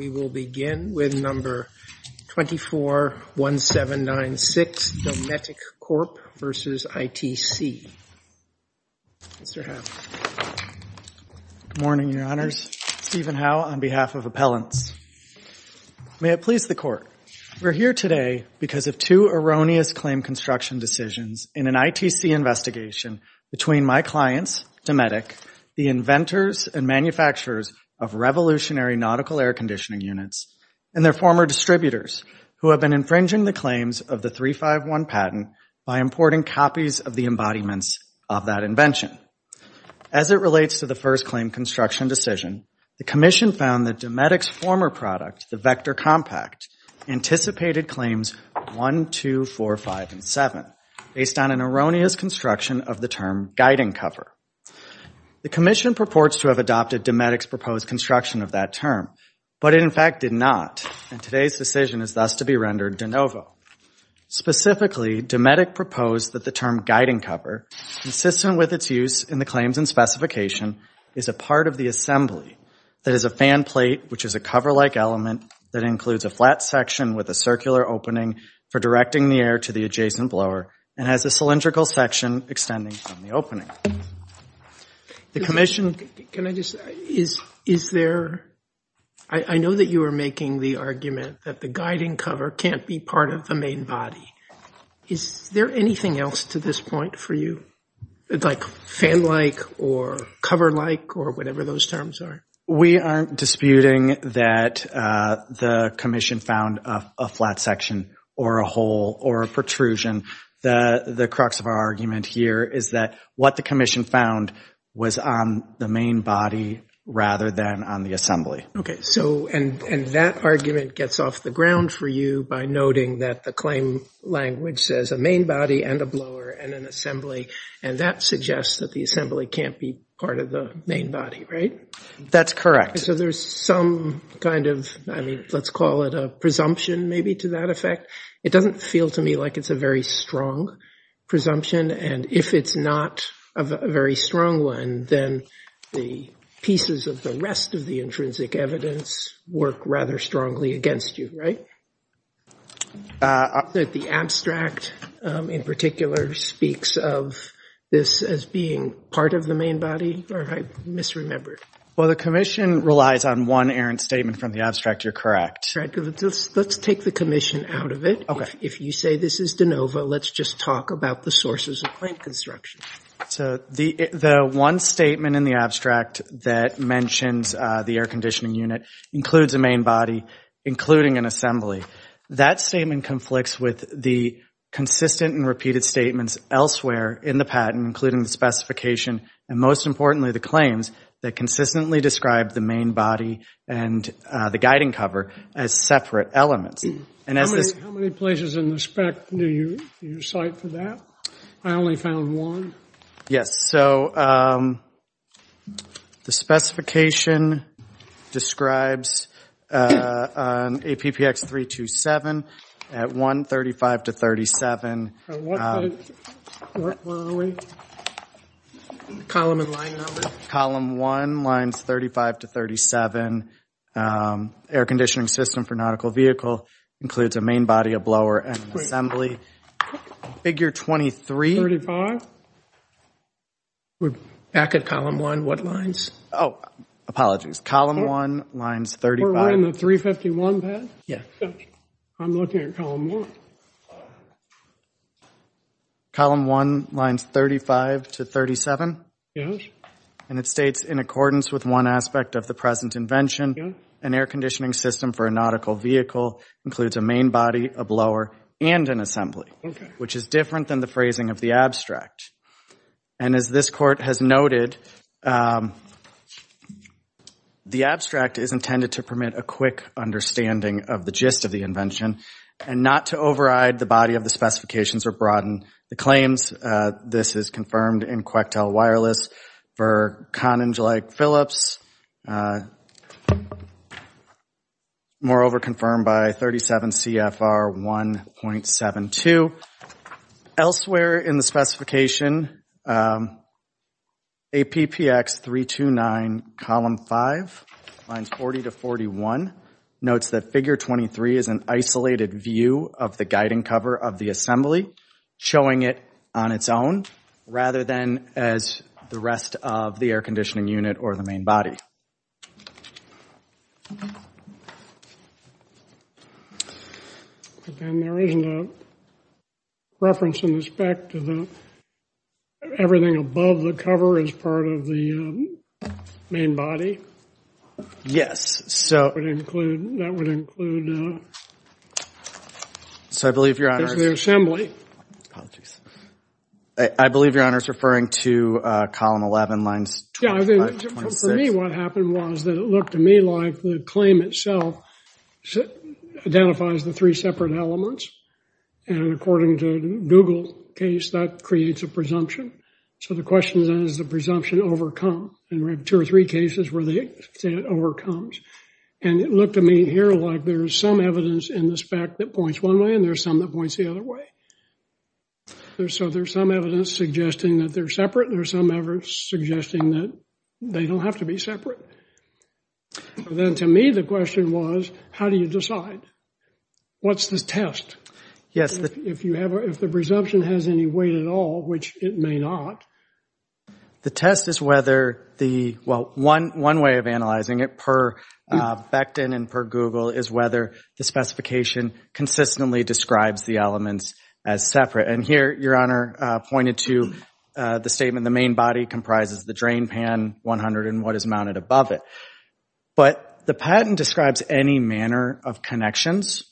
We will begin with No. 241796, Dometic Corp. v. ITC. Mr. Howe. Good morning, Your Honors. Stephen Howe on behalf of Appellants. May it please the Court. We are here today because of two erroneous claim construction decisions in an ITC investigation between my clients, Dometic, the inventors and manufacturers of revolutionary nautical air conditioning units and their former distributors who have been infringing the claims of the 351 patent by importing copies of the embodiments of that invention. As it relates to the first claim construction decision, the Commission found that Dometic's former product, the Vector Compact, anticipated claims 1, 2, 4, 5, and 7 based on an erroneous construction of the term guiding cover. The Commission purports to have adopted Dometic's proposed construction of that term, but it in fact did not, and today's decision is thus to be rendered de novo. Specifically, Dometic proposed that the term guiding cover, consistent with its use in the claims and specification, is a part of the assembly that is a fan plate, which is a cover-like element that includes a flat section with a circular opening for directing the air to the adjacent blower and has a cylindrical section extending from the opening. The Commission, can I just, is there, I know that you are making the argument that the guiding cover can't be part of the main body. Is there anything else to this point for you, like fan-like or cover-like or whatever those terms are? We aren't disputing that the Commission found a flat section or a hole or a protrusion. The crux of our argument here is that what the Commission found was on the main body rather than on the assembly. Okay, so, and that argument gets off the ground for you by noting that the claim language says a main body and a blower and an assembly, and that suggests that the assembly can't be part of the That's correct. So there's some kind of, I mean, let's call it a presumption maybe to that effect. It doesn't feel to me like it's a very strong presumption, and if it's not a very strong one, then the pieces of the rest of the intrinsic evidence work rather strongly against you, right? The abstract in particular speaks of this as being part of the main body, or I misremembered. Well, the Commission relies on one errant statement from the abstract. You're correct. Let's take the Commission out of it. Okay. If you say this is de novo, let's just talk about the sources of claim construction. So the one statement in the abstract that mentions the air conditioning unit includes a main body, including an assembly. That statement conflicts with the consistent and repeated statements elsewhere in the patent, and most importantly the claims that consistently describe the main body and the guiding cover as separate elements. How many places in the spec do you cite for that? I only found one. Yes. So the specification describes APPX 327 at 135 to 37. Where are we? Column and line number. Column 1, lines 35 to 37. Air conditioning system for nautical vehicle includes a main body, a blower, and an assembly. Figure 23. We're back at column 1. What lines? Oh, apologies. Column 1, lines 35. We're on the 351 path? Yes. I'm looking at column 1. Column 1, lines 35 to 37. Yes. And it states in accordance with one aspect of the present invention, an air conditioning system for a nautical vehicle includes a main body, a blower, and an assembly, which is different than the phrasing of the abstract. And as this court has noted, the abstract is intended to permit a quick understanding of the gist of the invention and not to override the body of the specifications or broaden the claims. This is confirmed in Coectel Wireless for conning like Phillips, moreover confirmed by 37 CFR 1.72. Elsewhere in the specification, APPX 329, column 5, lines 40 to 41, notes that figure 23 is an isolated view of the guiding cover of the assembly, showing it on its own rather than as the rest of the air conditioning unit or the main body. But then there isn't a reference in the spec to the everything above the cover as part of the main body? Yes. That would include the assembly. Apologies. I believe Your Honor is referring to column 11, lines 25 to 26. For me, what happened was that it looked to me like the claim itself identifies the three separate elements. And according to Google's case, that creates a presumption. So the question is, does the presumption overcome? And we have two or three cases where they say it overcomes. And it looked to me here like there's some evidence in the spec that points one way, and there's some that points the other way. So there's some evidence suggesting that they're separate, and there's some evidence suggesting that they don't have to be separate. Then to me, the question was, how do you decide? What's the test? Yes. If the presumption has any weight at all, which it may not. The test is whether the – well, one way of analyzing it per Becton and per Google is whether the specification consistently describes the elements as separate. And here, Your Honor pointed to the statement, the main body comprises the drain pan 100 and what is mounted above it. But the patent describes any manner of connections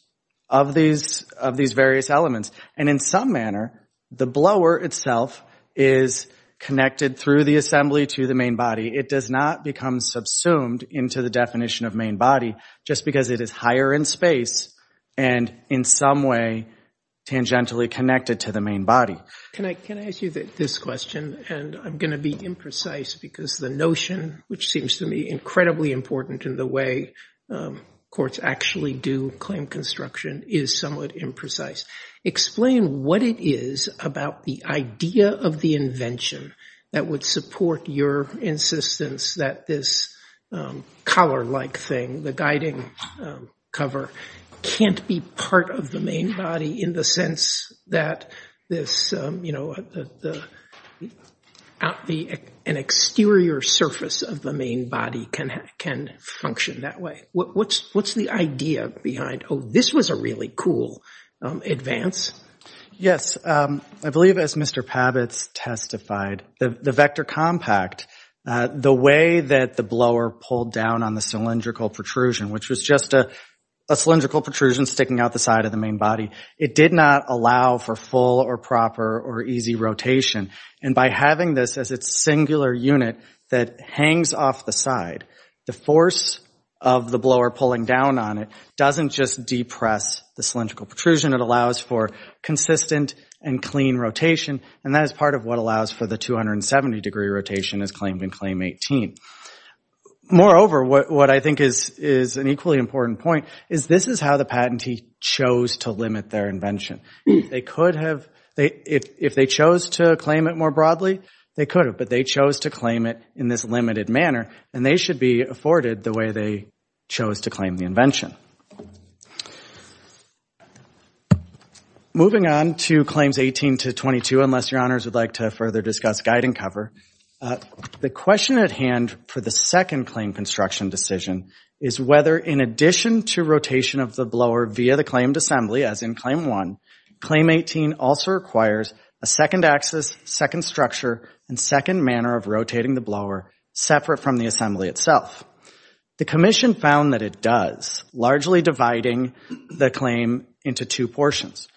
of these various elements. And in some manner, the blower itself is connected through the assembly to the main body. It does not become subsumed into the definition of main body just because it is higher in space and in some way tangentially connected to the main body. Can I ask you this question? And I'm going to be imprecise because the notion, which seems to me incredibly important in the way courts actually do claim construction, is somewhat imprecise. Explain what it is about the idea of the invention that would support your insistence that this collar-like thing, the guiding cover, can't be part of the main body in the sense that an exterior surface of the main body can function that way. What's the idea behind, oh, this was a really cool advance? Yes. I believe, as Mr. Pabitz testified, the vector compact, the way that the blower pulled down on the cylindrical protrusion, which was just a cylindrical protrusion sticking out the side of the main body, it did not allow for full or proper or easy rotation. And by having this as its singular unit that hangs off the side, the force of the blower pulling down on it doesn't just depress the cylindrical protrusion. It allows for consistent and clean rotation, and that is part of what allows for the 270-degree rotation as claimed in Claim 18. Moreover, what I think is an equally important point is this is how the patentee chose to limit their invention. If they chose to claim it more broadly, they could have, but they chose to claim it in this limited manner, and they should be afforded the way they chose to claim the invention. Moving on to Claims 18 to 22, unless your honors would like to further discuss guide and cover. The question at hand for the second claim construction decision is whether, in addition to rotation of the blower via the claimed assembly, as in Claim 1, Claim 18 also requires a second axis, second structure, and second manner of rotating the blower separate from the assembly itself. The Commission found that it does, largely dividing the claim into two portions.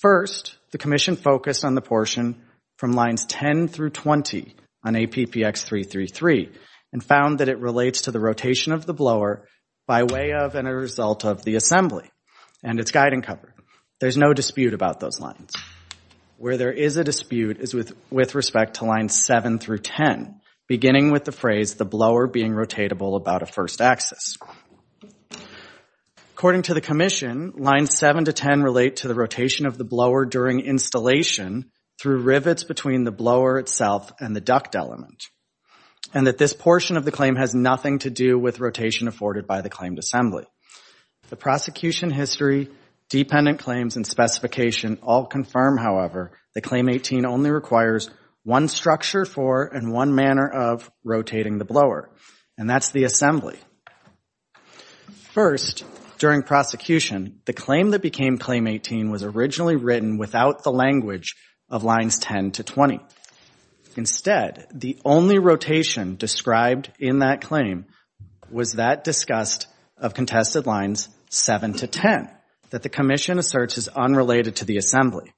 First, the Commission focused on the portion from lines 10 through 20 on APPX333 and found that it relates to the rotation of the blower by way of and a result of the assembly and its guide and cover. There's no dispute about those lines. Where there is a dispute is with respect to lines 7 through 10, beginning with the phrase, the blower being rotatable about a first axis. According to the Commission, lines 7 to 10 relate to the rotation of the blower during installation through rivets between the blower itself and the duct element, and that this portion of the claim has nothing to do with rotation afforded by the claimed assembly. The prosecution history, dependent claims, and specification all confirm, however, that Claim 18 only requires one structure for and one manner of rotating the blower, and that's the assembly. First, during prosecution, the claim that became Claim 18 was originally written without the language of lines 10 to 20. Instead, the only rotation described in that claim was that discussed of contested lines 7 to 10 that the Commission asserts is unrelated to the assembly.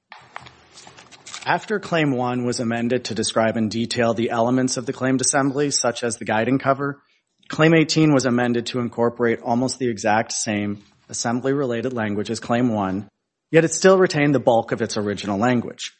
After Claim 1 was amended to describe in detail the elements of the claimed assembly, such as the guide and cover, Claim 18 was amended to incorporate almost the exact same assembly-related language as Claim 1, yet it still retained the bulk of its original language.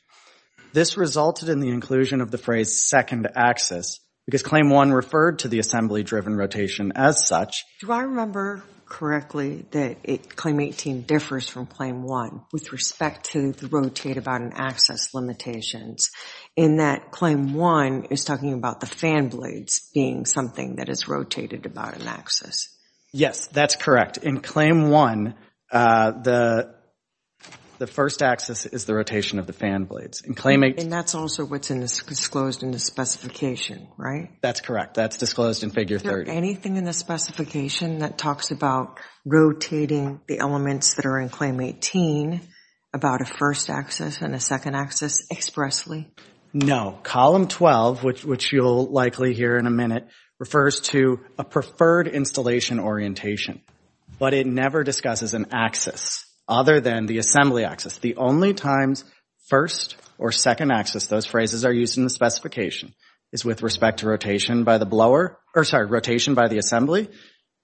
This resulted in the inclusion of the phrase second axis, because Claim 1 referred to the assembly-driven rotation as such. Do I remember correctly that Claim 18 differs from Claim 1 with respect to the rotate about an axis limitations, in that Claim 1 is talking about the fan blades being something that is rotated about an axis? Yes, that's correct. In fact, in Claim 1, the first axis is the rotation of the fan blades. And that's also what's disclosed in the specification, right? That's correct. That's disclosed in Figure 30. Is there anything in the specification that talks about rotating the elements that are in Claim 18, about a first axis and a second axis expressly? No. Column 12, which you'll likely hear in a minute, refers to a preferred installation orientation, but it never discusses an axis other than the assembly axis. The only times first or second axis, those phrases are used in the specification, is with respect to rotation by the blower, or sorry, rotation by the assembly,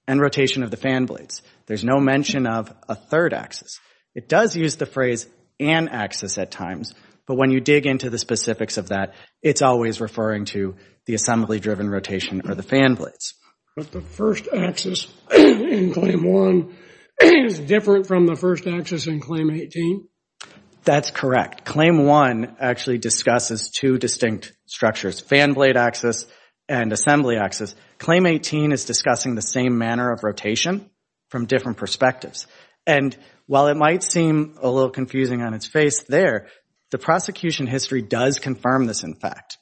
and rotation of the fan blades. There's no mention of a third axis. It does use the phrase an axis at times, but when you dig into the specifics of that, it's always referring to the assembly-driven rotation or the fan blades. But the first axis in Claim 1 is different from the first axis in Claim 18? That's correct. Claim 1 actually discusses two distinct structures, fan blade axis and assembly axis. Claim 18 is discussing the same manner of rotation from different perspectives. And while it might seem a little confusing on its face there, the prosecution history does confirm this, in fact.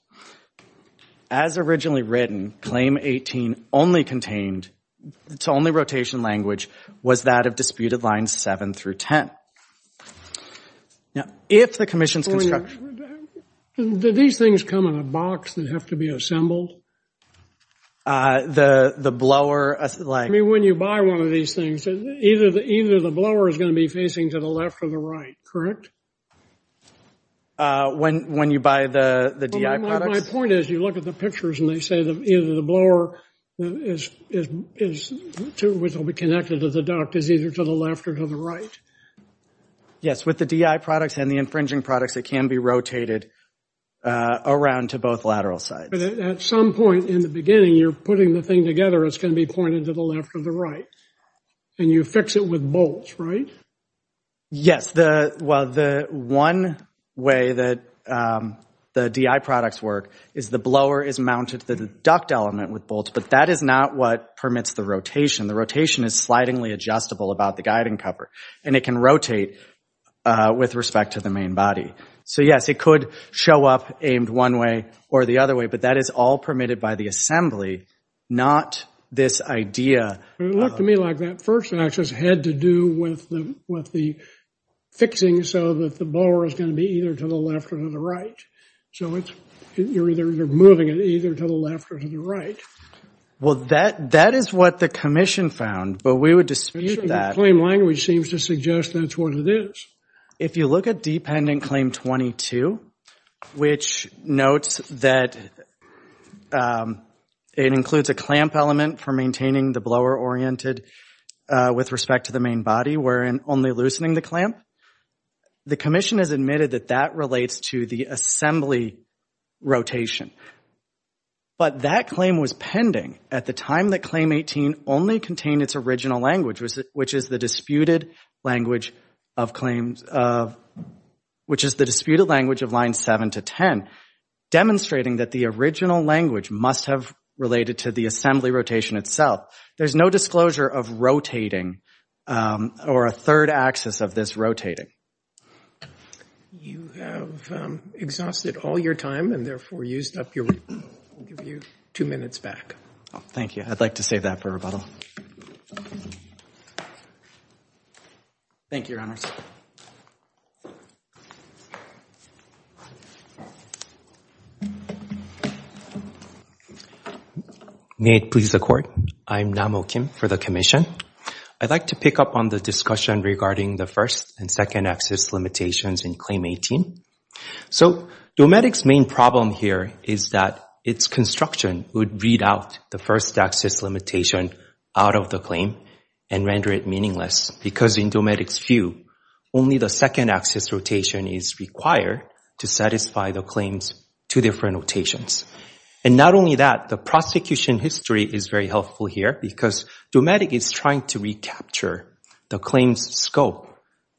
As originally written, Claim 18 only contained, its only rotation language was that of disputed lines 7 through 10. Now, if the commission's construction. Do these things come in a box that have to be assembled? The blower? I mean, when you buy one of these things, either the blower is going to be facing to the left or the right, correct? When you buy the DI products? My point is, you look at the pictures and they say either the blower, which will be connected to the duct, is either to the left or to the right. Yes, with the DI products and the infringing products, it can be rotated around to both lateral sides. At some point in the beginning, you're putting the thing together, it's going to be pointed to the left or the right. And you fix it with bolts, right? Yes. Well, the one way that the DI products work is the blower is mounted to the duct element with bolts, but that is not what permits the rotation. The rotation is slidingly adjustable about the guiding cover, and it can rotate with respect to the main body. So, yes, it could show up aimed one way or the other way, but that is all permitted by the assembly, not this idea. It looked to me like that first, and that just had to do with the fixing so that the blower is going to be either to the left or to the right. So you're either moving it either to the left or to the right. Well, that is what the commission found, but we would dispute that. The claim language seems to suggest that's what it is. If you look at dependent claim 22, which notes that it includes a clamp element for maintaining the blower oriented with respect to the main body, wherein only loosening the clamp, the commission has admitted that that relates to the assembly rotation. But that claim was pending at the time that claim 18 only contained its original language, which is the disputed language of line 7 to 10, demonstrating that the original language must have related to the assembly rotation itself. There's no disclosure of rotating or a third axis of this rotating. You have exhausted all your time and, therefore, used up your rebuttal. I'll give you two minutes back. Thank you. I'd like to save that for rebuttal. Thank you, Your Honors. May it please the Court. I am Nam Oh Kim for the commission. I'd like to pick up on the discussion regarding the first and second axis limitations in claim 18. Dometic's main problem here is that its construction would read out the first axis limitation out of the claim and render it meaningless, because in Dometic's view, only the second axis rotation is required to satisfy the claims to different rotations. Not only that, the prosecution history is very helpful here, because Dometic is trying to recapture the claim's scope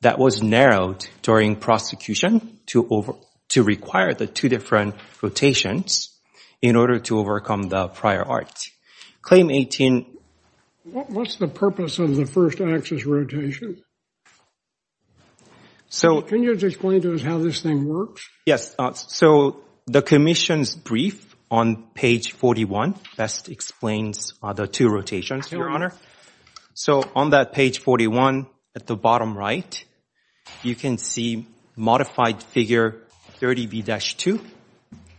that was narrowed during prosecution to require the two different rotations in order to overcome the prior art. Claim 18. What's the purpose of the first axis rotation? Can you explain to us how this thing works? Yes. So the commission's brief on page 41 best explains the two rotations, Your Honor. So on that page 41 at the bottom right, you can see modified figure 30B-2,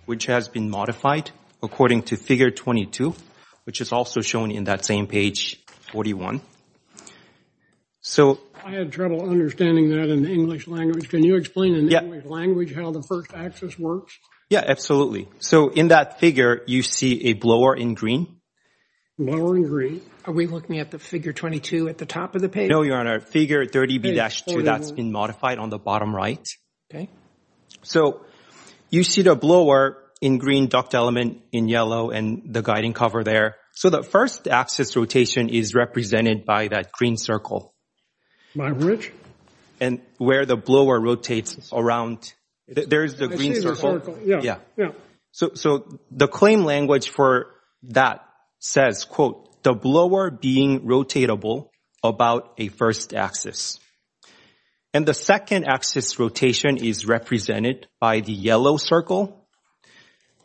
which has been modified according to figure 22, which is also shown in that same page 41. I had trouble understanding that in the English language. Can you explain in the English language how the first axis works? Yes, absolutely. So in that figure, you see a blower in green. Blower in green. Are we looking at the figure 22 at the top of the page? No, Your Honor. Figure 30B-2, that's been modified on the bottom right. Okay. So you see the blower in green, duct element in yellow, and the guiding cover there. So the first axis rotation is represented by that green circle. By which? And where the blower rotates around. There's the green circle. I see the circle, yeah. Yeah. So the claim language for that says, quote, the blower being rotatable about a first axis. And the second axis rotation is represented by the yellow circle.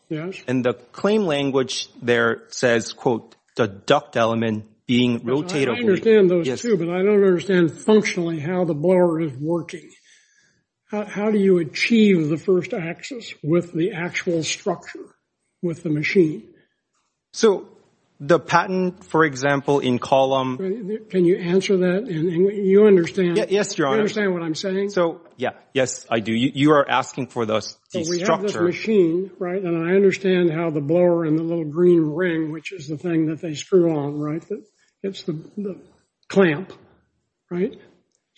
Yes. And the claim language there says, quote, the duct element being rotatable. I understand those two, but I don't understand functionally how the blower is working. How do you achieve the first axis with the actual structure, with the machine? So the patent, for example, in column. Can you answer that? You understand. Yes, Your Honor. You understand what I'm saying? So, yeah, yes, I do. You are asking for the structure. We have this machine, right, and I understand how the blower and the little green ring, which is the thing that they screw on, right? It's the clamp, right?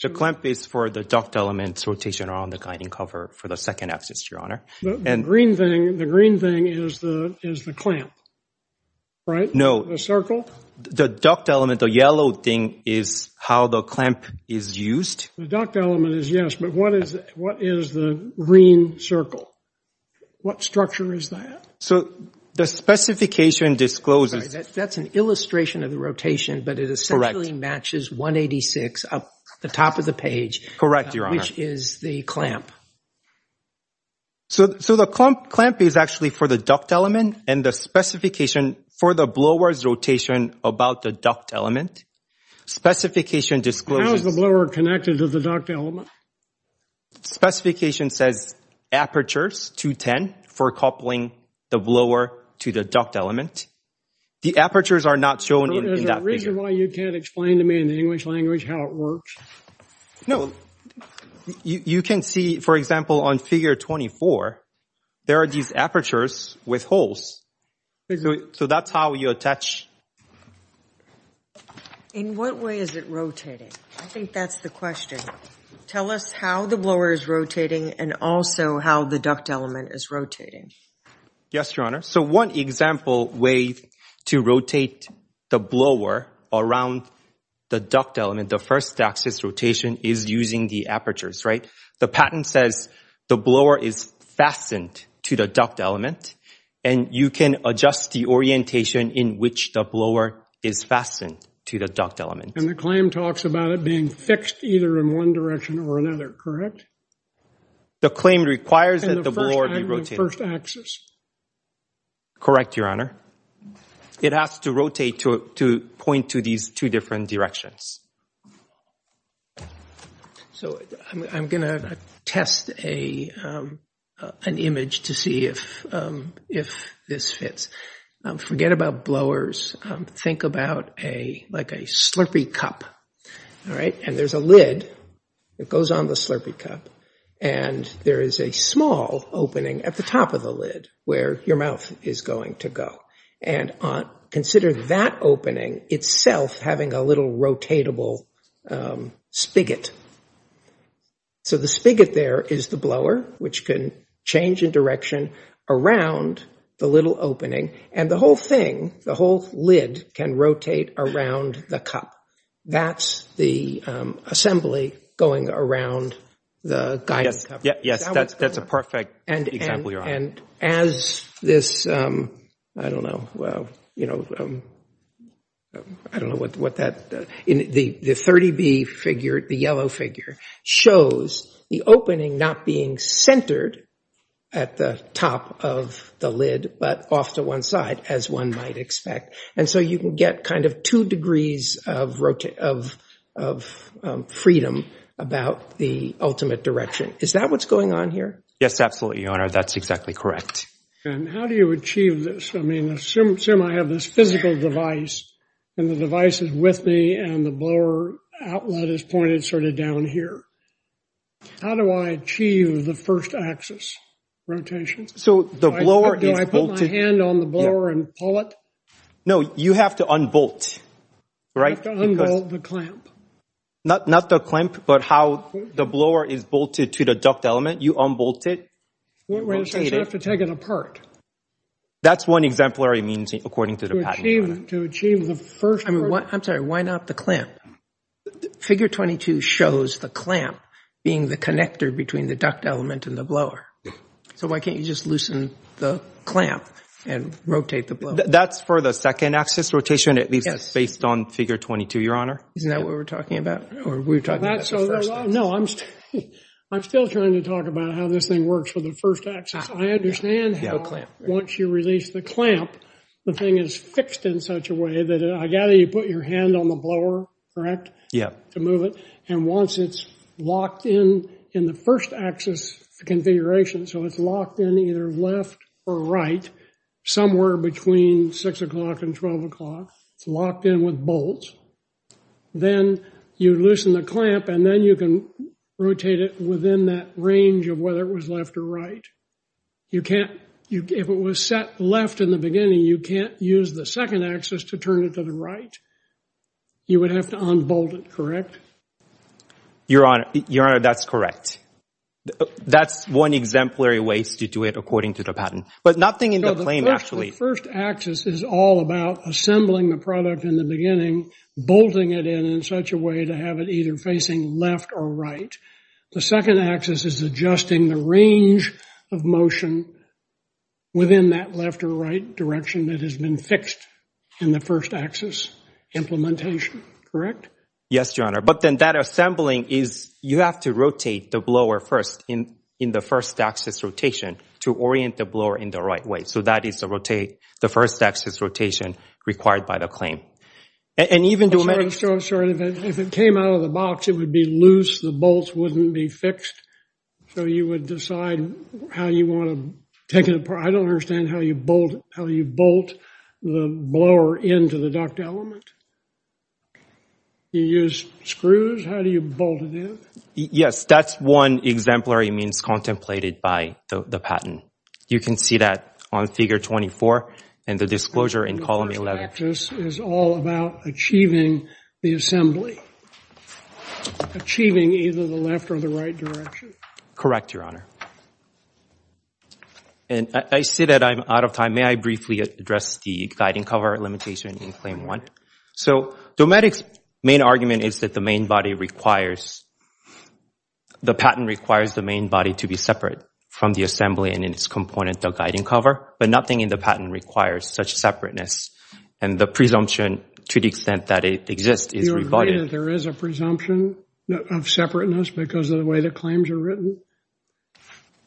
The clamp is for the duct element rotation around the guiding cover for the second axis, Your Honor. The green thing is the clamp, right? No. The circle? The duct element, the yellow thing, is how the clamp is used. The duct element is, yes, but what is the green circle? What structure is that? So the specification discloses. That's an illustration of the rotation, but it essentially matches 186 up the top of the page. Correct, Your Honor. Which is the clamp. So the clamp is actually for the duct element, and the specification for the blower's rotation about the duct element. Specification discloses. How is the blower connected to the duct element? Specification says apertures 210 for coupling the blower to the duct element. The apertures are not shown in that figure. Is there a reason why you can't explain to me in the English language how it works? No. You can see, for example, on figure 24, there are these apertures with holes. So that's how you attach. In what way is it rotating? I think that's the question. Tell us how the blower is rotating and also how the duct element is rotating. Yes, Your Honor. So one example way to rotate the blower around the duct element, the first axis rotation is using the apertures, right? The patent says the blower is fastened to the duct element, and you can adjust the orientation in which the blower is fastened to the duct element. And the claim talks about it being fixed either in one direction or another, correct? The claim requires that the blower be rotated. The first axis. Correct, Your Honor. It has to rotate to point to these two different directions. So I'm going to test an image to see if this fits. Forget about blowers. Think about like a slurpy cup, all right? And there's a lid that goes on the slurpy cup, and there is a small opening at the top of the lid where your mouth is going to go. And consider that opening itself having a little rotatable spigot. So the spigot there is the blower, which can change in direction around the little opening, and the whole thing, the whole lid, can rotate around the cup. That's the assembly going around the guidance cup. Yes, that's a perfect example, Your Honor. And as this, I don't know, well, you know, I don't know what that, the 30B figure, the yellow figure, shows the opening not being centered at the top of the lid but off to one side, as one might expect. And so you can get kind of two degrees of freedom about the ultimate direction. Is that what's going on here? Yes, absolutely, Your Honor. That's exactly correct. And how do you achieve this? I mean, assume I have this physical device, and the device is with me, and the blower outlet is pointed sort of down here. How do I achieve the first axis rotation? So the blower is bolted. Do I put my hand on the blower and pull it? No, you have to unbolt, right? You have to unbolt the clamp. Not the clamp, but how the blower is bolted to the duct element. You unbolt it. You rotate it. So I have to take it apart? That's one exemplary means, according to the patent. To achieve the first part. I'm sorry. Why not the clamp? Figure 22 shows the clamp being the connector between the duct element and the blower. So why can't you just loosen the clamp and rotate the blower? That's for the second axis rotation, at least based on figure 22, Your Honor. Isn't that what we're talking about? No, I'm still trying to talk about how this thing works for the first axis. I understand how once you release the clamp, the thing is fixed in such a way that I gather you put your hand on the blower, correct? Yeah. To move it. And once it's locked in in the first axis configuration, so it's locked in either left or right, somewhere between 6 o'clock and 12 o'clock. It's locked in with bolts. Then you loosen the clamp and then you can rotate it within that range of whether it was left or right. You can't, if it was set left in the beginning, you can't use the second axis to turn it to the right. You would have to unbolt it, correct? Your Honor, that's correct. That's one exemplary way to do it according to the patent, but nothing in the claim actually. The first axis is all about assembling the product in the beginning, bolting it in in such a way to have it either facing left or right. The second axis is adjusting the range of motion within that left or right direction that has been fixed in the first axis implementation, correct? Yes, Your Honor, but then that assembling is you have to rotate the blower first in the first axis rotation to orient the blower in the right way. So that is the first axis rotation required by the claim. I'm sorry. If it came out of the box, it would be loose. The bolts wouldn't be fixed. So you would decide how you want to take it apart. I don't understand how you bolt the blower into the duct element. You use screws? How do you bolt it in? Yes, that's one exemplary means contemplated by the patent. You can see that on Figure 24 and the disclosure in Column 11. The second axis is all about achieving the assembly, achieving either the left or the right direction. Correct, Your Honor. And I see that I'm out of time. May I briefly address the guiding cover limitation in Claim 1? So Dometic's main argument is that the patent requires the main body to be separate from the assembly and its component, the guiding cover, but nothing in the patent requires such separateness. And the presumption, to the extent that it exists, is rebutted. Do you agree that there is a presumption of separateness because of the way the claims are written?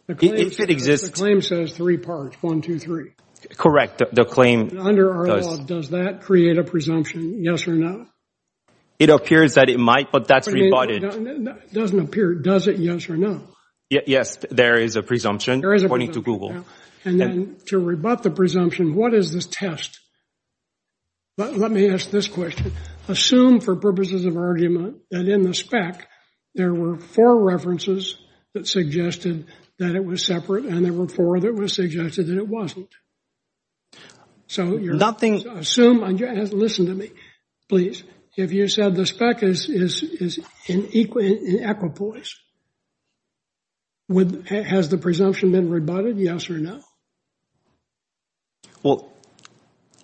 If it exists. The claim says three parts, one, two, three. Correct. Under our law, does that create a presumption, yes or no? It appears that it might, but that's rebutted. It doesn't appear. Does it, yes or no? Yes, there is a presumption according to Google. And then to rebut the presumption, what is this test? Let me ask this question. Assume for purposes of argument that in the spec there were four references that suggested that it was separate and there were four that suggested that it wasn't. So assume, listen to me, please, if you said the spec is in equipoise, has the presumption been rebutted, yes or no? Well,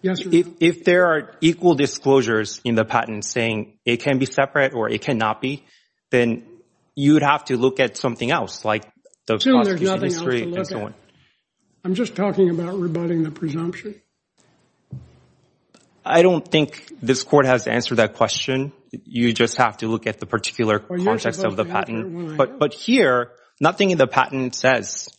if there are equal disclosures in the patent saying it can be separate or it cannot be, then you would have to look at something else like the prosecution history and so on. I'm just talking about rebutting the presumption. I don't think this Court has answered that question. You just have to look at the particular context of the patent. But here, nothing in the patent says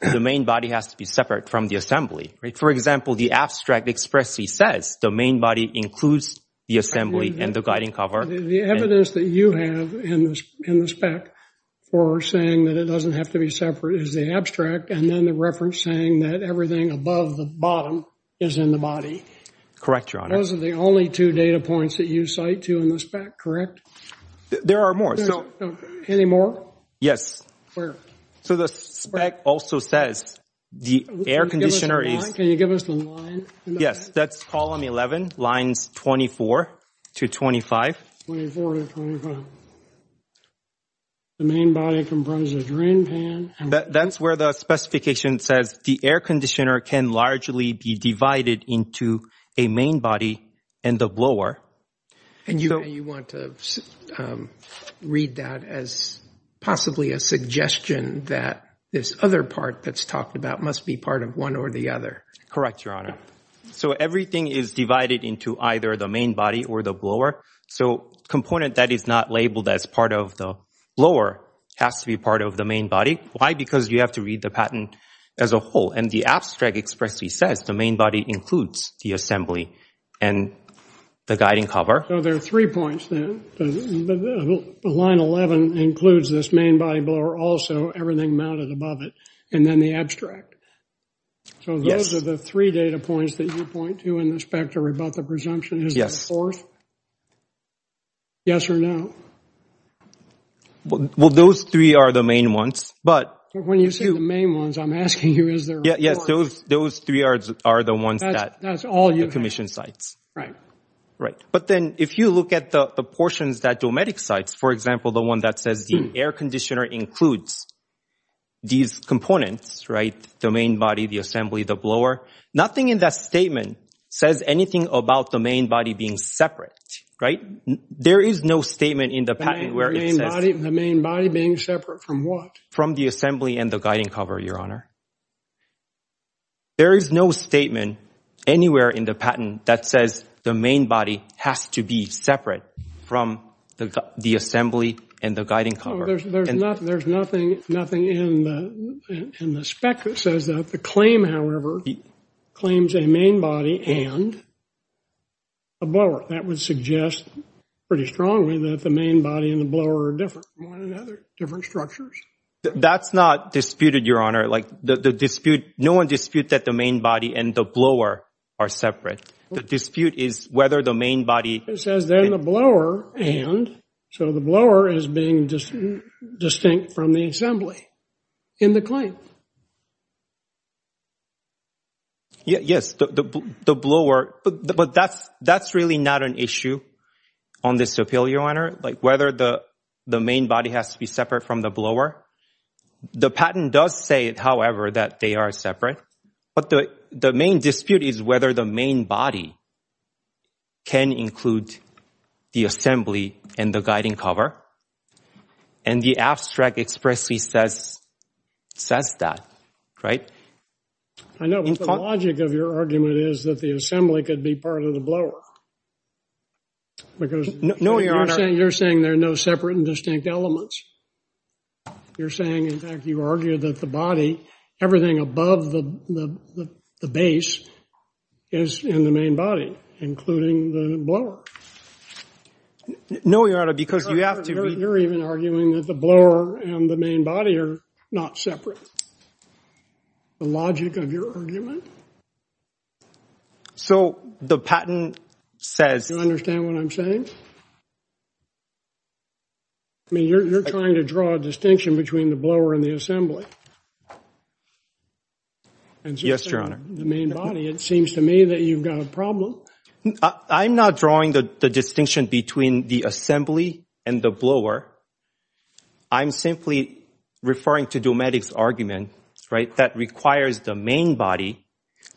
the main body has to be separate from the assembly. For example, the abstract expressly says the main body includes the assembly and the guiding cover. The evidence that you have in the spec for saying that it doesn't have to be separate is the abstract and then the reference saying that everything above the bottom is in the body. Correct, Your Honor. Those are the only two data points that you cite to in the spec, correct? There are more. Any more? Yes. Where? So the spec also says the air conditioner is... Can you give us the line? Yes, that's column 11, lines 24 to 25. 24 to 25. The main body comprises the drain pan. That's where the specification says the air conditioner can largely be divided into a main body and the blower. And you want to read that as possibly a suggestion that this other part that's talked about must be part of one or the other. Correct, Your Honor. So everything is divided into either the main body or the blower. So a component that is not labeled as part of the blower has to be part of the main body. Why? Because you have to read the patent as a whole. And the abstract expressly says the main body includes the assembly and the guiding cover. So there are three points then. Line 11 includes this main body blower also, everything mounted above it, and then the abstract. So those are the three data points that you point to in the spec to rebut the presumption. Is there a fourth? Yes or no? Well, those three are the main ones, but... When you say the main ones, I'm asking you, is there a fourth? Yes, those three are the ones that... That's all you have. ...the commission cites. Right. Right. But then if you look at the portions that Dometic cites, for example, the one that says the air conditioner includes these components, right, the main body, the assembly, the blower, nothing in that statement says anything about the main body being separate, right? There is no statement in the patent where it says... The main body being separate from what? From the assembly and the guiding cover, Your Honor. There is no statement anywhere in the patent that says the main body has to be separate from the assembly and the guiding cover. There's nothing in the spec that says that. The claim, however, claims a main body and a blower. That would suggest pretty strongly that the main body and the blower are different from one another, different structures. That's not disputed, Your Honor. Like, the dispute, no one disputed that the main body and the blower are separate. The dispute is whether the main body... It says then the blower and, so the blower is being distinct from the assembly in the claim. Yes, the blower, but that's really not an issue on this appeal, Your Honor, like whether the main body has to be separate from the blower. The patent does say, however, that they are separate, but the main dispute is whether the main body can include the assembly and the guiding cover. And the abstract expressly says that, right? I know, but the logic of your argument is that the assembly could be part of the blower. Because you're saying there are no separate and distinct elements. You're saying, in fact, you argue that the body, everything above the base is in the main body, including the blower. No, Your Honor, because you have to... You're even arguing that the blower and the main body are not separate. The logic of your argument... So, the patent says... Do you understand what I'm saying? I mean, you're trying to draw a distinction between the blower and the assembly. Yes, Your Honor. The main body, it seems to me that you've got a problem. I'm not drawing the distinction between the assembly and the blower. I'm simply referring to Dometic's argument that requires the main body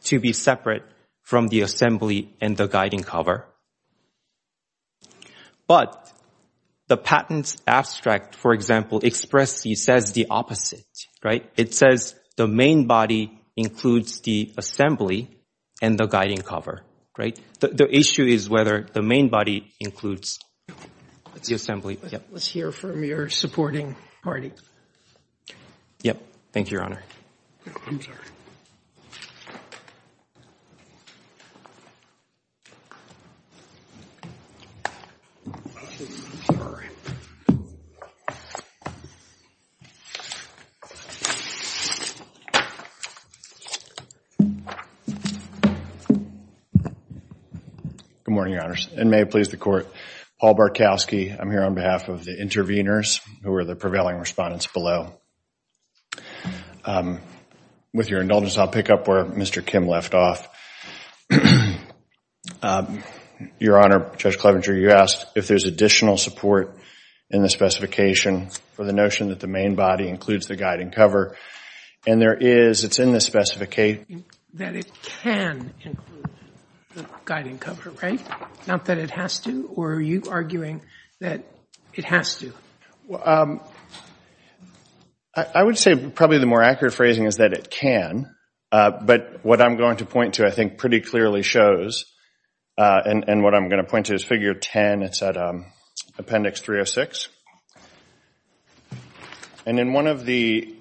to be separate from the assembly and the guiding cover. But the patent's abstract, for example, expressly says the opposite. It says the main body includes the assembly and the guiding cover. The issue is whether the main body includes the assembly. Let's hear from your supporting party. Yep. Thank you, Your Honor. I'm sorry. Good morning, Your Honors, and may it please the Court. Paul Barkowski, I'm here on behalf of the interveners, who are the prevailing respondents below. With your indulgence, I'll pick up where Mr. Kim left off. Your Honor, Judge Clevenger, you asked if there's additional support in the specification for the notion that the main body includes the guiding cover. And there is. It's in the specification. That it can include the guiding cover, right? Not that it has to? Or are you arguing that it has to? I would say probably the more accurate phrasing is that it can. But what I'm going to point to, I think, pretty clearly shows. And what I'm going to point to is Figure 10. It's at Appendix 306. And in one of the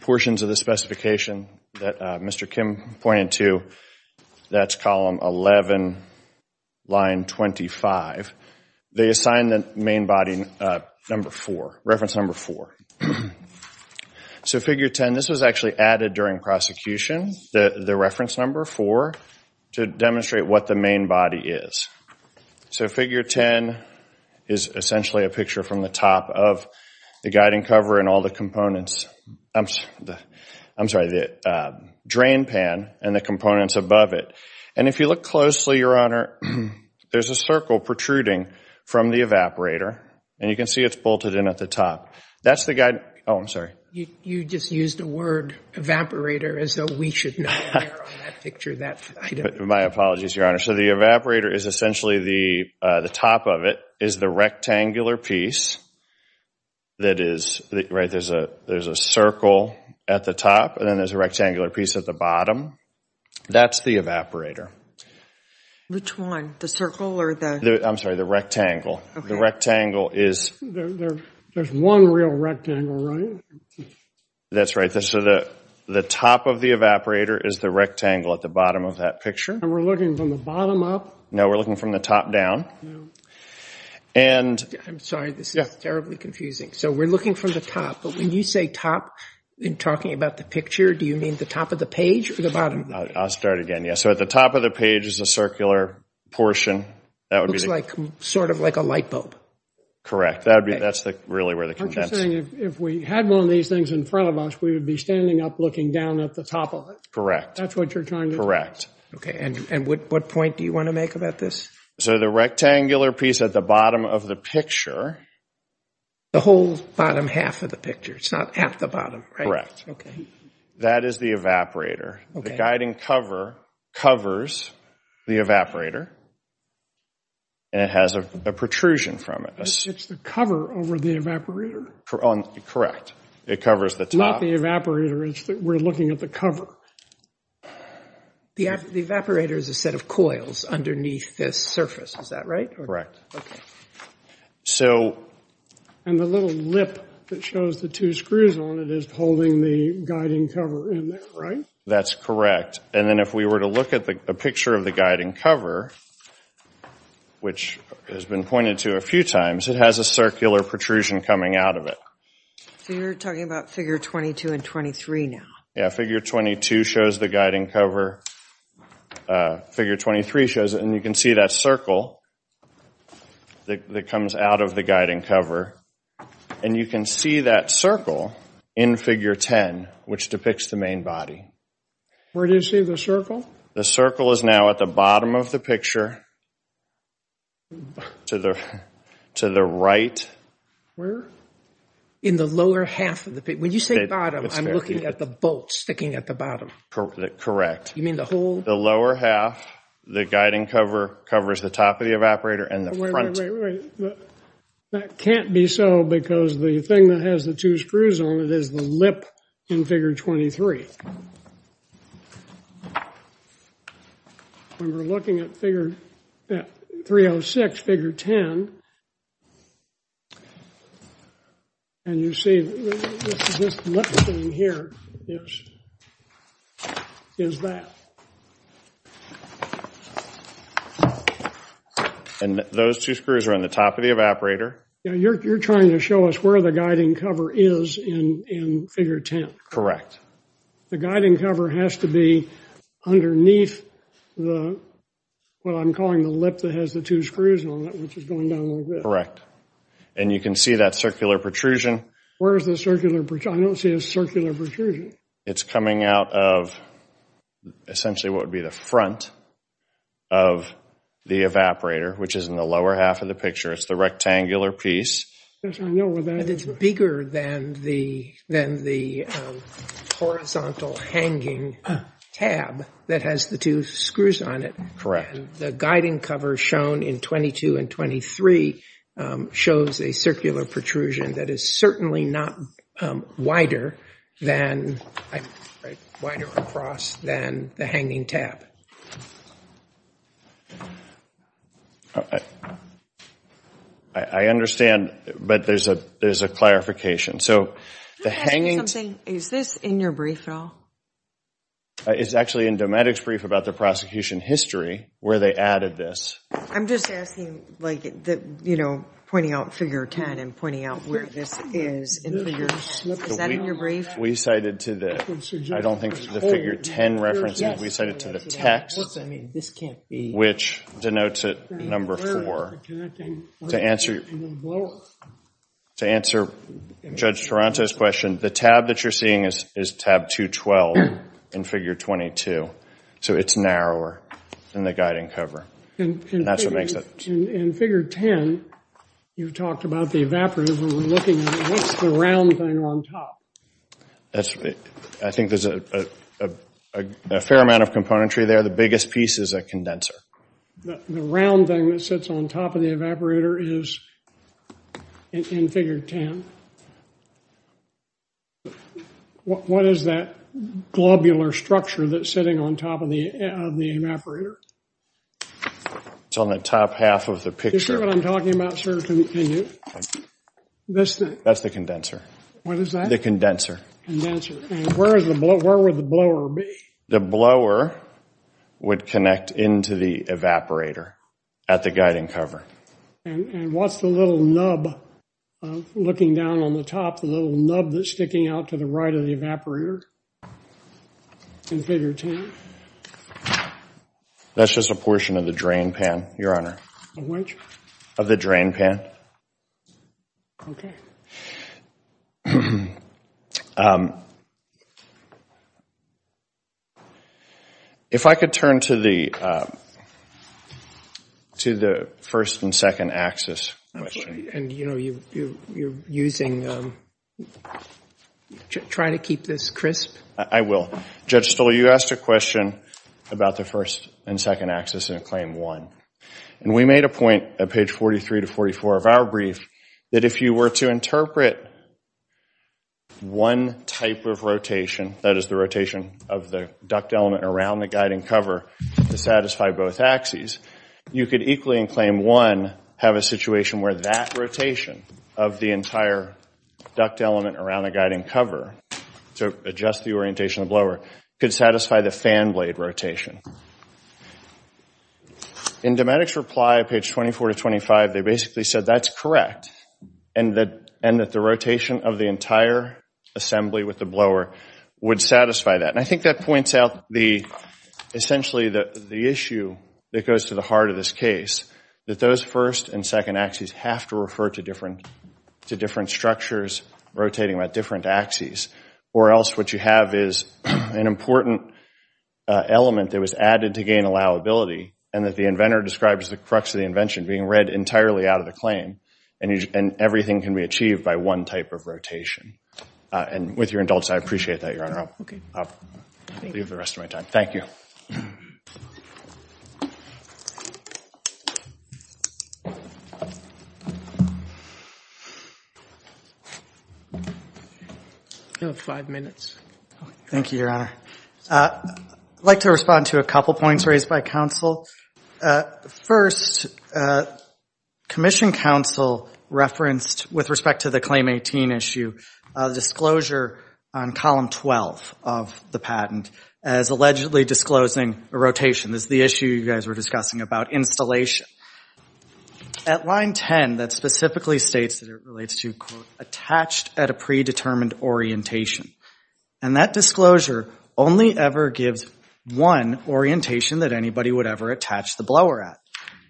portions of the specification that Mr. Kim pointed to, that's Column 11, Line 25. They assign the main body reference number 4. So Figure 10, this was actually added during prosecution, the reference number 4, to demonstrate what the main body is. So Figure 10 is essentially a picture from the top of the guiding cover and all the components. I'm sorry, the drain pan and the components above it. And if you look closely, Your Honor, there's a circle protruding from the evaporator. And you can see it's bolted in at the top. Oh, I'm sorry. You just used the word evaporator as though we should know. My apologies, Your Honor. So the evaporator is essentially, the top of it is the rectangular piece. That is, right, there's a circle at the top and then there's a rectangular piece at the bottom. That's the evaporator. Which one, the circle or the? I'm sorry, the rectangle. Okay. The rectangle is. There's one real rectangle, right? That's right. So the top of the evaporator is the rectangle at the bottom of that picture. And we're looking from the bottom up? No, we're looking from the top down. I'm sorry, this is terribly confusing. So we're looking from the top. But when you say top, in talking about the picture, do you mean the top of the page or the bottom? I'll start again. Yeah, so at the top of the page is a circular portion. That would be. Looks like, sort of like a light bulb. Correct. That would be, that's really where the. Aren't you saying if we had one of these things in front of us, we would be standing up looking down at the top of it? Correct. That's what you're trying to. Correct. And what point do you want to make about this? So the rectangular piece at the bottom of the picture. The whole bottom half of the picture. It's not at the bottom, right? Correct. Okay. That is the evaporator. Okay. The guiding cover covers the evaporator. And it has a protrusion from it. It's the cover over the evaporator? Correct. It covers the top. Not the evaporator. We're looking at the cover. The evaporator is a set of coils underneath this surface. Is that right? Okay. So. And the little lip that shows the two screws on it is holding the guiding cover in there, right? That's correct. And then if we were to look at the picture of the guiding cover, which has been pointed to a few times, it has a circular protrusion coming out of it. So you're talking about figure 22 and 23 now? Yeah, figure 22 shows the guiding cover. Figure 23 shows it. And you can see that circle that comes out of the guiding cover. And you can see that circle in figure 10, which depicts the main body. Where do you see the circle? The circle is now at the bottom of the picture. To the right. Where? In the lower half of the picture. When you say bottom, I'm looking at the bolt sticking at the bottom. Correct. You mean the hole? The lower half. The guiding cover covers the top of the evaporator and the front. Wait, wait, wait. That can't be so because the thing that has the two screws on it is the lip in figure 23. When we're looking at figure 306, figure 10. And you see this lip thing here is that. And those two screws are on the top of the evaporator? Yeah, you're trying to show us where the guiding cover is in figure 10. Correct. The guiding cover has to be underneath what I'm calling the lip that has the two screws on it, which is going down like this. And you can see that circular protrusion. Where is the circular protrusion? I don't see a circular protrusion. It's coming out of essentially what would be the front of the evaporator, which is in the lower half of the picture. It's the rectangular piece. Yes, I know where that is. And it's bigger than the horizontal hanging tab that has the two screws on it. Correct. And the guiding cover shown in 22 and 23 shows a circular protrusion that is certainly not wider across than the hanging tab. I understand, but there's a clarification. Can I ask you something? Is this in your brief at all? It's actually in Dometic's brief about the prosecution history where they added this. I'm just asking, like, you know, pointing out figure 10 and pointing out where this is in figures. Is that in your brief? We cited to the, I don't think the figure 10 references. We cited to the text, which denotes it number 4. To answer Judge Taranto's question, the tab that you're seeing is tab 212 in figure 22. So it's narrower than the guiding cover. And that's what makes it. In figure 10, you've talked about the evaporator, but we're looking at what's the round thing on top. I think there's a fair amount of componentry there. The biggest piece is a condenser. The round thing that sits on top of the evaporator is in figure 10. What is that globular structure that's sitting on top of the evaporator? It's on the top half of the picture. Is that what I'm talking about, sir? That's the condenser. What is that? The condenser. Condenser. And where would the blower be? The blower would connect into the evaporator at the guiding cover. And what's the little nub looking down on the top, the little nub that's sticking out to the right of the evaporator in figure 10? That's just a portion of the drain pan, Your Honor. Of which? Of the drain pan. Okay. If I could turn to the first and second axis question. And, you know, you're using, trying to keep this crisp. I will. Judge Stoll, you asked a question about the first and second axis in Claim 1. And we made a point at page 43 to 44 of our brief that if you were to interpret one type of rotation, that is the rotation of the duct element around the guiding cover, to satisfy both axes, you could equally in Claim 1 have a situation where that rotation of the entire duct element around the guiding cover, to adjust the orientation of the blower, could satisfy the fan blade rotation. In Dometic's reply, page 24 to 25, they basically said that's correct. And that the rotation of the entire assembly with the blower would satisfy that. And I think that points out, essentially, the issue that goes to the heart of this case, that those first and second axes have to refer to different structures rotating about different axes. Or else what you have is an important element that was added to gain allowability and that the inventor describes the crux of the invention being read entirely out of the claim. And everything can be achieved by one type of rotation. And with your indulgence, I appreciate that, Your Honor. I'll leave the rest of my time. Thank you. You have five minutes. Thank you, Your Honor. I'd like to respond to a couple points raised by counsel. First, commission counsel referenced, with respect to the Claim 18 issue, disclosure on column 12 of the patent as allegedly disclosing a rotation. This is the issue you guys were discussing about installation. At line 10, that specifically states that it relates to, quote, attached at a predetermined orientation. And that disclosure only ever gives one orientation that anybody would ever attach the blower at.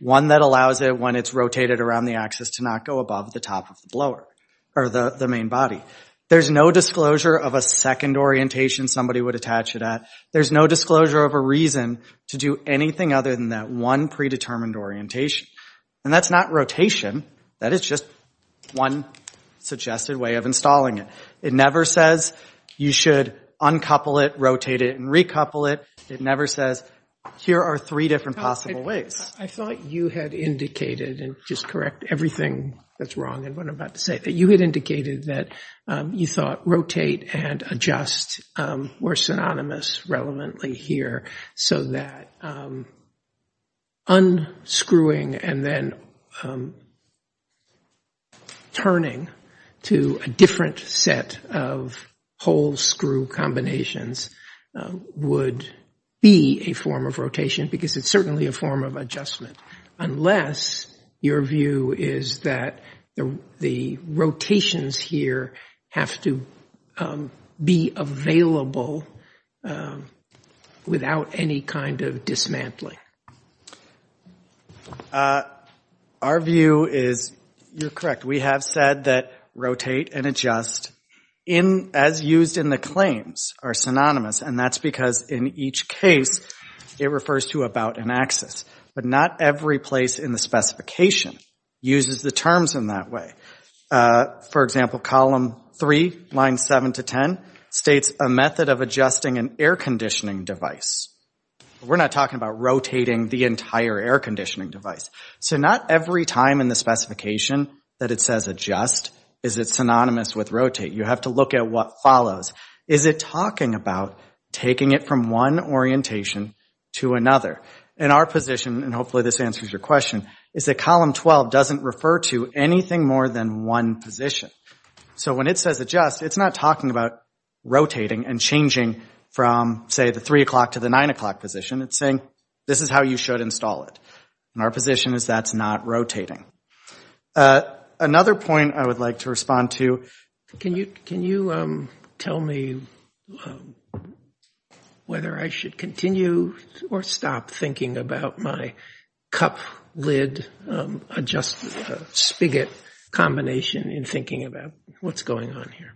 One that allows it, when it's rotated around the axis, to not go above the top of the blower or the main body. There's no disclosure of a second orientation somebody would attach it at. There's no disclosure of a reason to do anything other than that one predetermined orientation. And that's not rotation. That is just one suggested way of installing it. It never says you should uncouple it, rotate it, and recouple it. It never says, here are three different possible ways. I thought you had indicated, and just correct everything that's wrong and what I'm about to say. That you had indicated that you thought rotate and adjust were synonymous relevantly here, so that unscrewing and then turning to a different set of whole screw combinations would be a form of rotation, because it's certainly a form of adjustment. Unless your view is that the rotations here have to be available without any kind of dismantling. Our view is, you're correct. We have said that rotate and adjust, as used in the claims, are synonymous. And that's because in each case, it refers to about an axis. But not every place in the specification uses the terms in that way. For example, column 3, lines 7 to 10, states a method of adjusting an air conditioning device. We're not talking about rotating the entire air conditioning device. So not every time in the specification that it says adjust, is it synonymous with rotate. You have to look at what follows. Is it talking about taking it from one orientation to another? And our position, and hopefully this answers your question, is that column 12 doesn't refer to anything more than one position. So when it says adjust, it's not talking about rotating and changing from, say, the 3 o'clock to the 9 o'clock position. It's saying, this is how you should install it. And our position is that's not rotating. Another point I would like to respond to, can you tell me whether I should continue or stop thinking about my cup lid adjust spigot combination in thinking about what's going on here?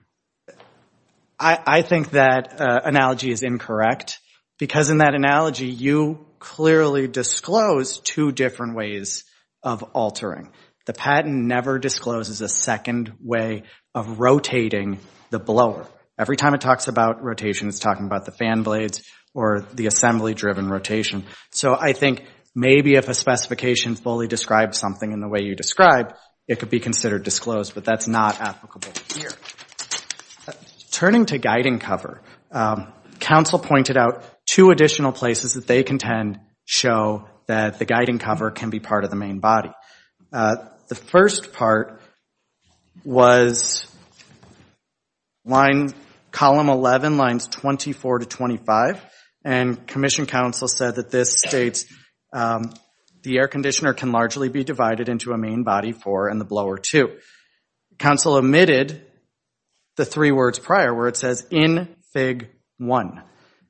I think that analogy is incorrect. Because in that analogy, you clearly disclose two different ways of altering. The patent never discloses a second way of rotating the blower. Every time it talks about rotation, it's talking about the fan blades or the assembly-driven rotation. So I think maybe if a specification fully describes something in the way you describe, it could be considered disclosed. But that's not applicable here. Turning to guiding cover, counsel pointed out two additional places that they contend show that the guiding cover can be part of the main body. The first part was column 11, lines 24 to 25. And commission counsel said that this states the air conditioner can largely be divided into a main body four and the blower two. Counsel omitted the three words prior where it says in fig one.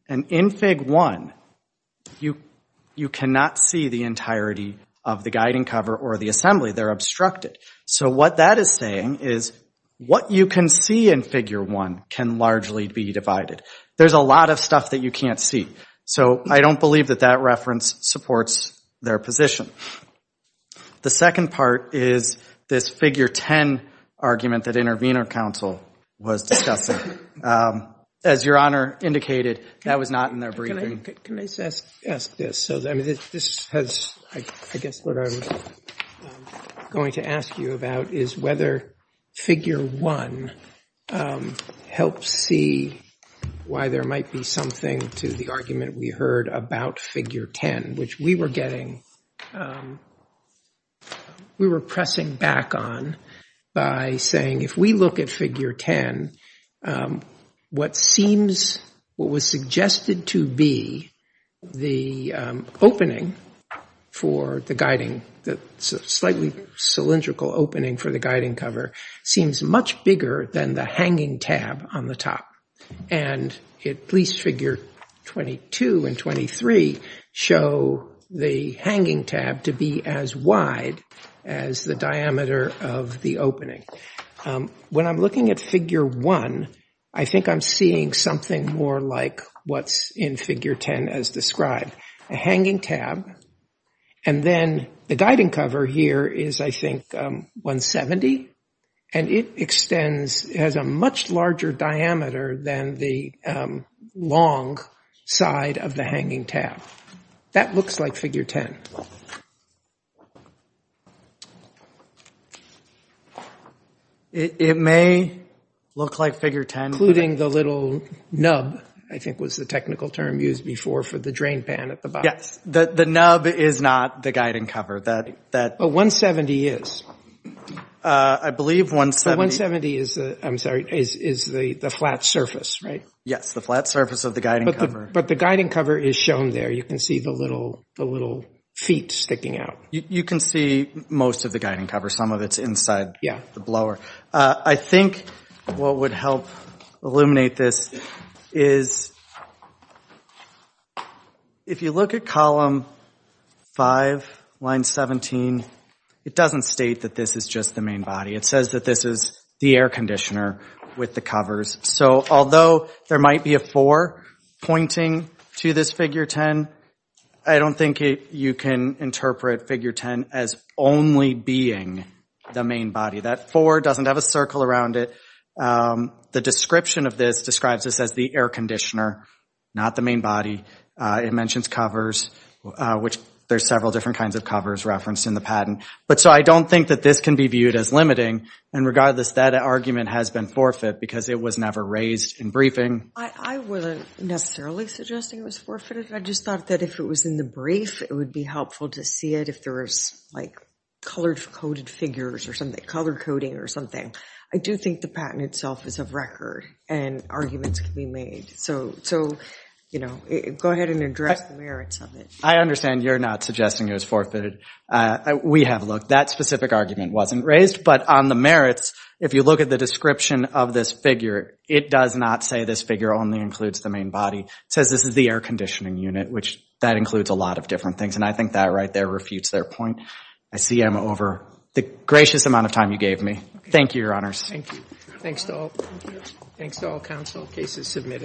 And in fig one, you cannot see the entirety of the guiding cover or the assembly. They're obstructed. So what that is saying is what you can see in figure one can largely be divided. There's a lot of stuff that you can't see. So I don't believe that that reference supports their position. The second part is this figure 10 argument that intervener counsel was discussing. As Your Honor indicated, that was not in their briefing. Can I ask this? This has, I guess, what I was going to ask you about is whether figure one helps see why there might be something to the argument we heard about figure 10, which we were pressing back on by saying if we look at figure 10, what was suggested to be the opening for the guiding, the slightly cylindrical opening for the guiding cover seems much bigger than the hanging tab on the top. And at least figure 22 and 23 show the hanging tab to be as wide as the diameter of the opening. When I'm looking at figure one, I think I'm seeing something more like what's in figure 10 as described, a hanging tab. And then the guiding cover here is, I think, 170. And it extends, has a much larger diameter than the long side of the hanging tab. That looks like figure 10. It may look like figure 10. Including the little nub, I think, was the technical term used before for the drain pan at the bottom. Yes, the nub is not the guiding cover. But 170 is. I believe 170. 170 is the flat surface, right? Yes, the flat surface of the guiding cover. But the guiding cover is shown there. You can see the little feet sticking out. You can see most of the guiding cover. Some of it's inside the blower. I think what would help illuminate this is, if you look at column 5, line 17, it doesn't state that this is just the main body. It says that this is the air conditioner with the covers. So although there might be a 4 pointing to this figure 10, I don't think you can interpret figure 10 as only being the main body. That 4 doesn't have a circle around it. The description of this describes this as the air conditioner, not the main body. It mentions covers, which there's several different kinds of covers referenced in the patent. But so I don't think that this can be viewed as limiting. And regardless, that argument has been forfeit because it was never raised in briefing. I wasn't necessarily suggesting it was forfeited. I just thought that if it was in the brief, it would be helpful to see it if there was, like, colored coded figures or something, colored coding or something. I do think the patent itself is of record and arguments can be made. So, you know, go ahead and address the merits of it. I understand you're not suggesting it was forfeited. We have looked. That specific argument wasn't raised. But on the merits, if you look at the description of this figure, it does not say this figure only includes the main body. It says this is the air conditioning unit, which that includes a lot of different things. And I think that right there refutes their point. I see I'm over the gracious amount of time you gave me. Thank you, Your Honors. Thank you. Thanks to all counsel. Case is submitted.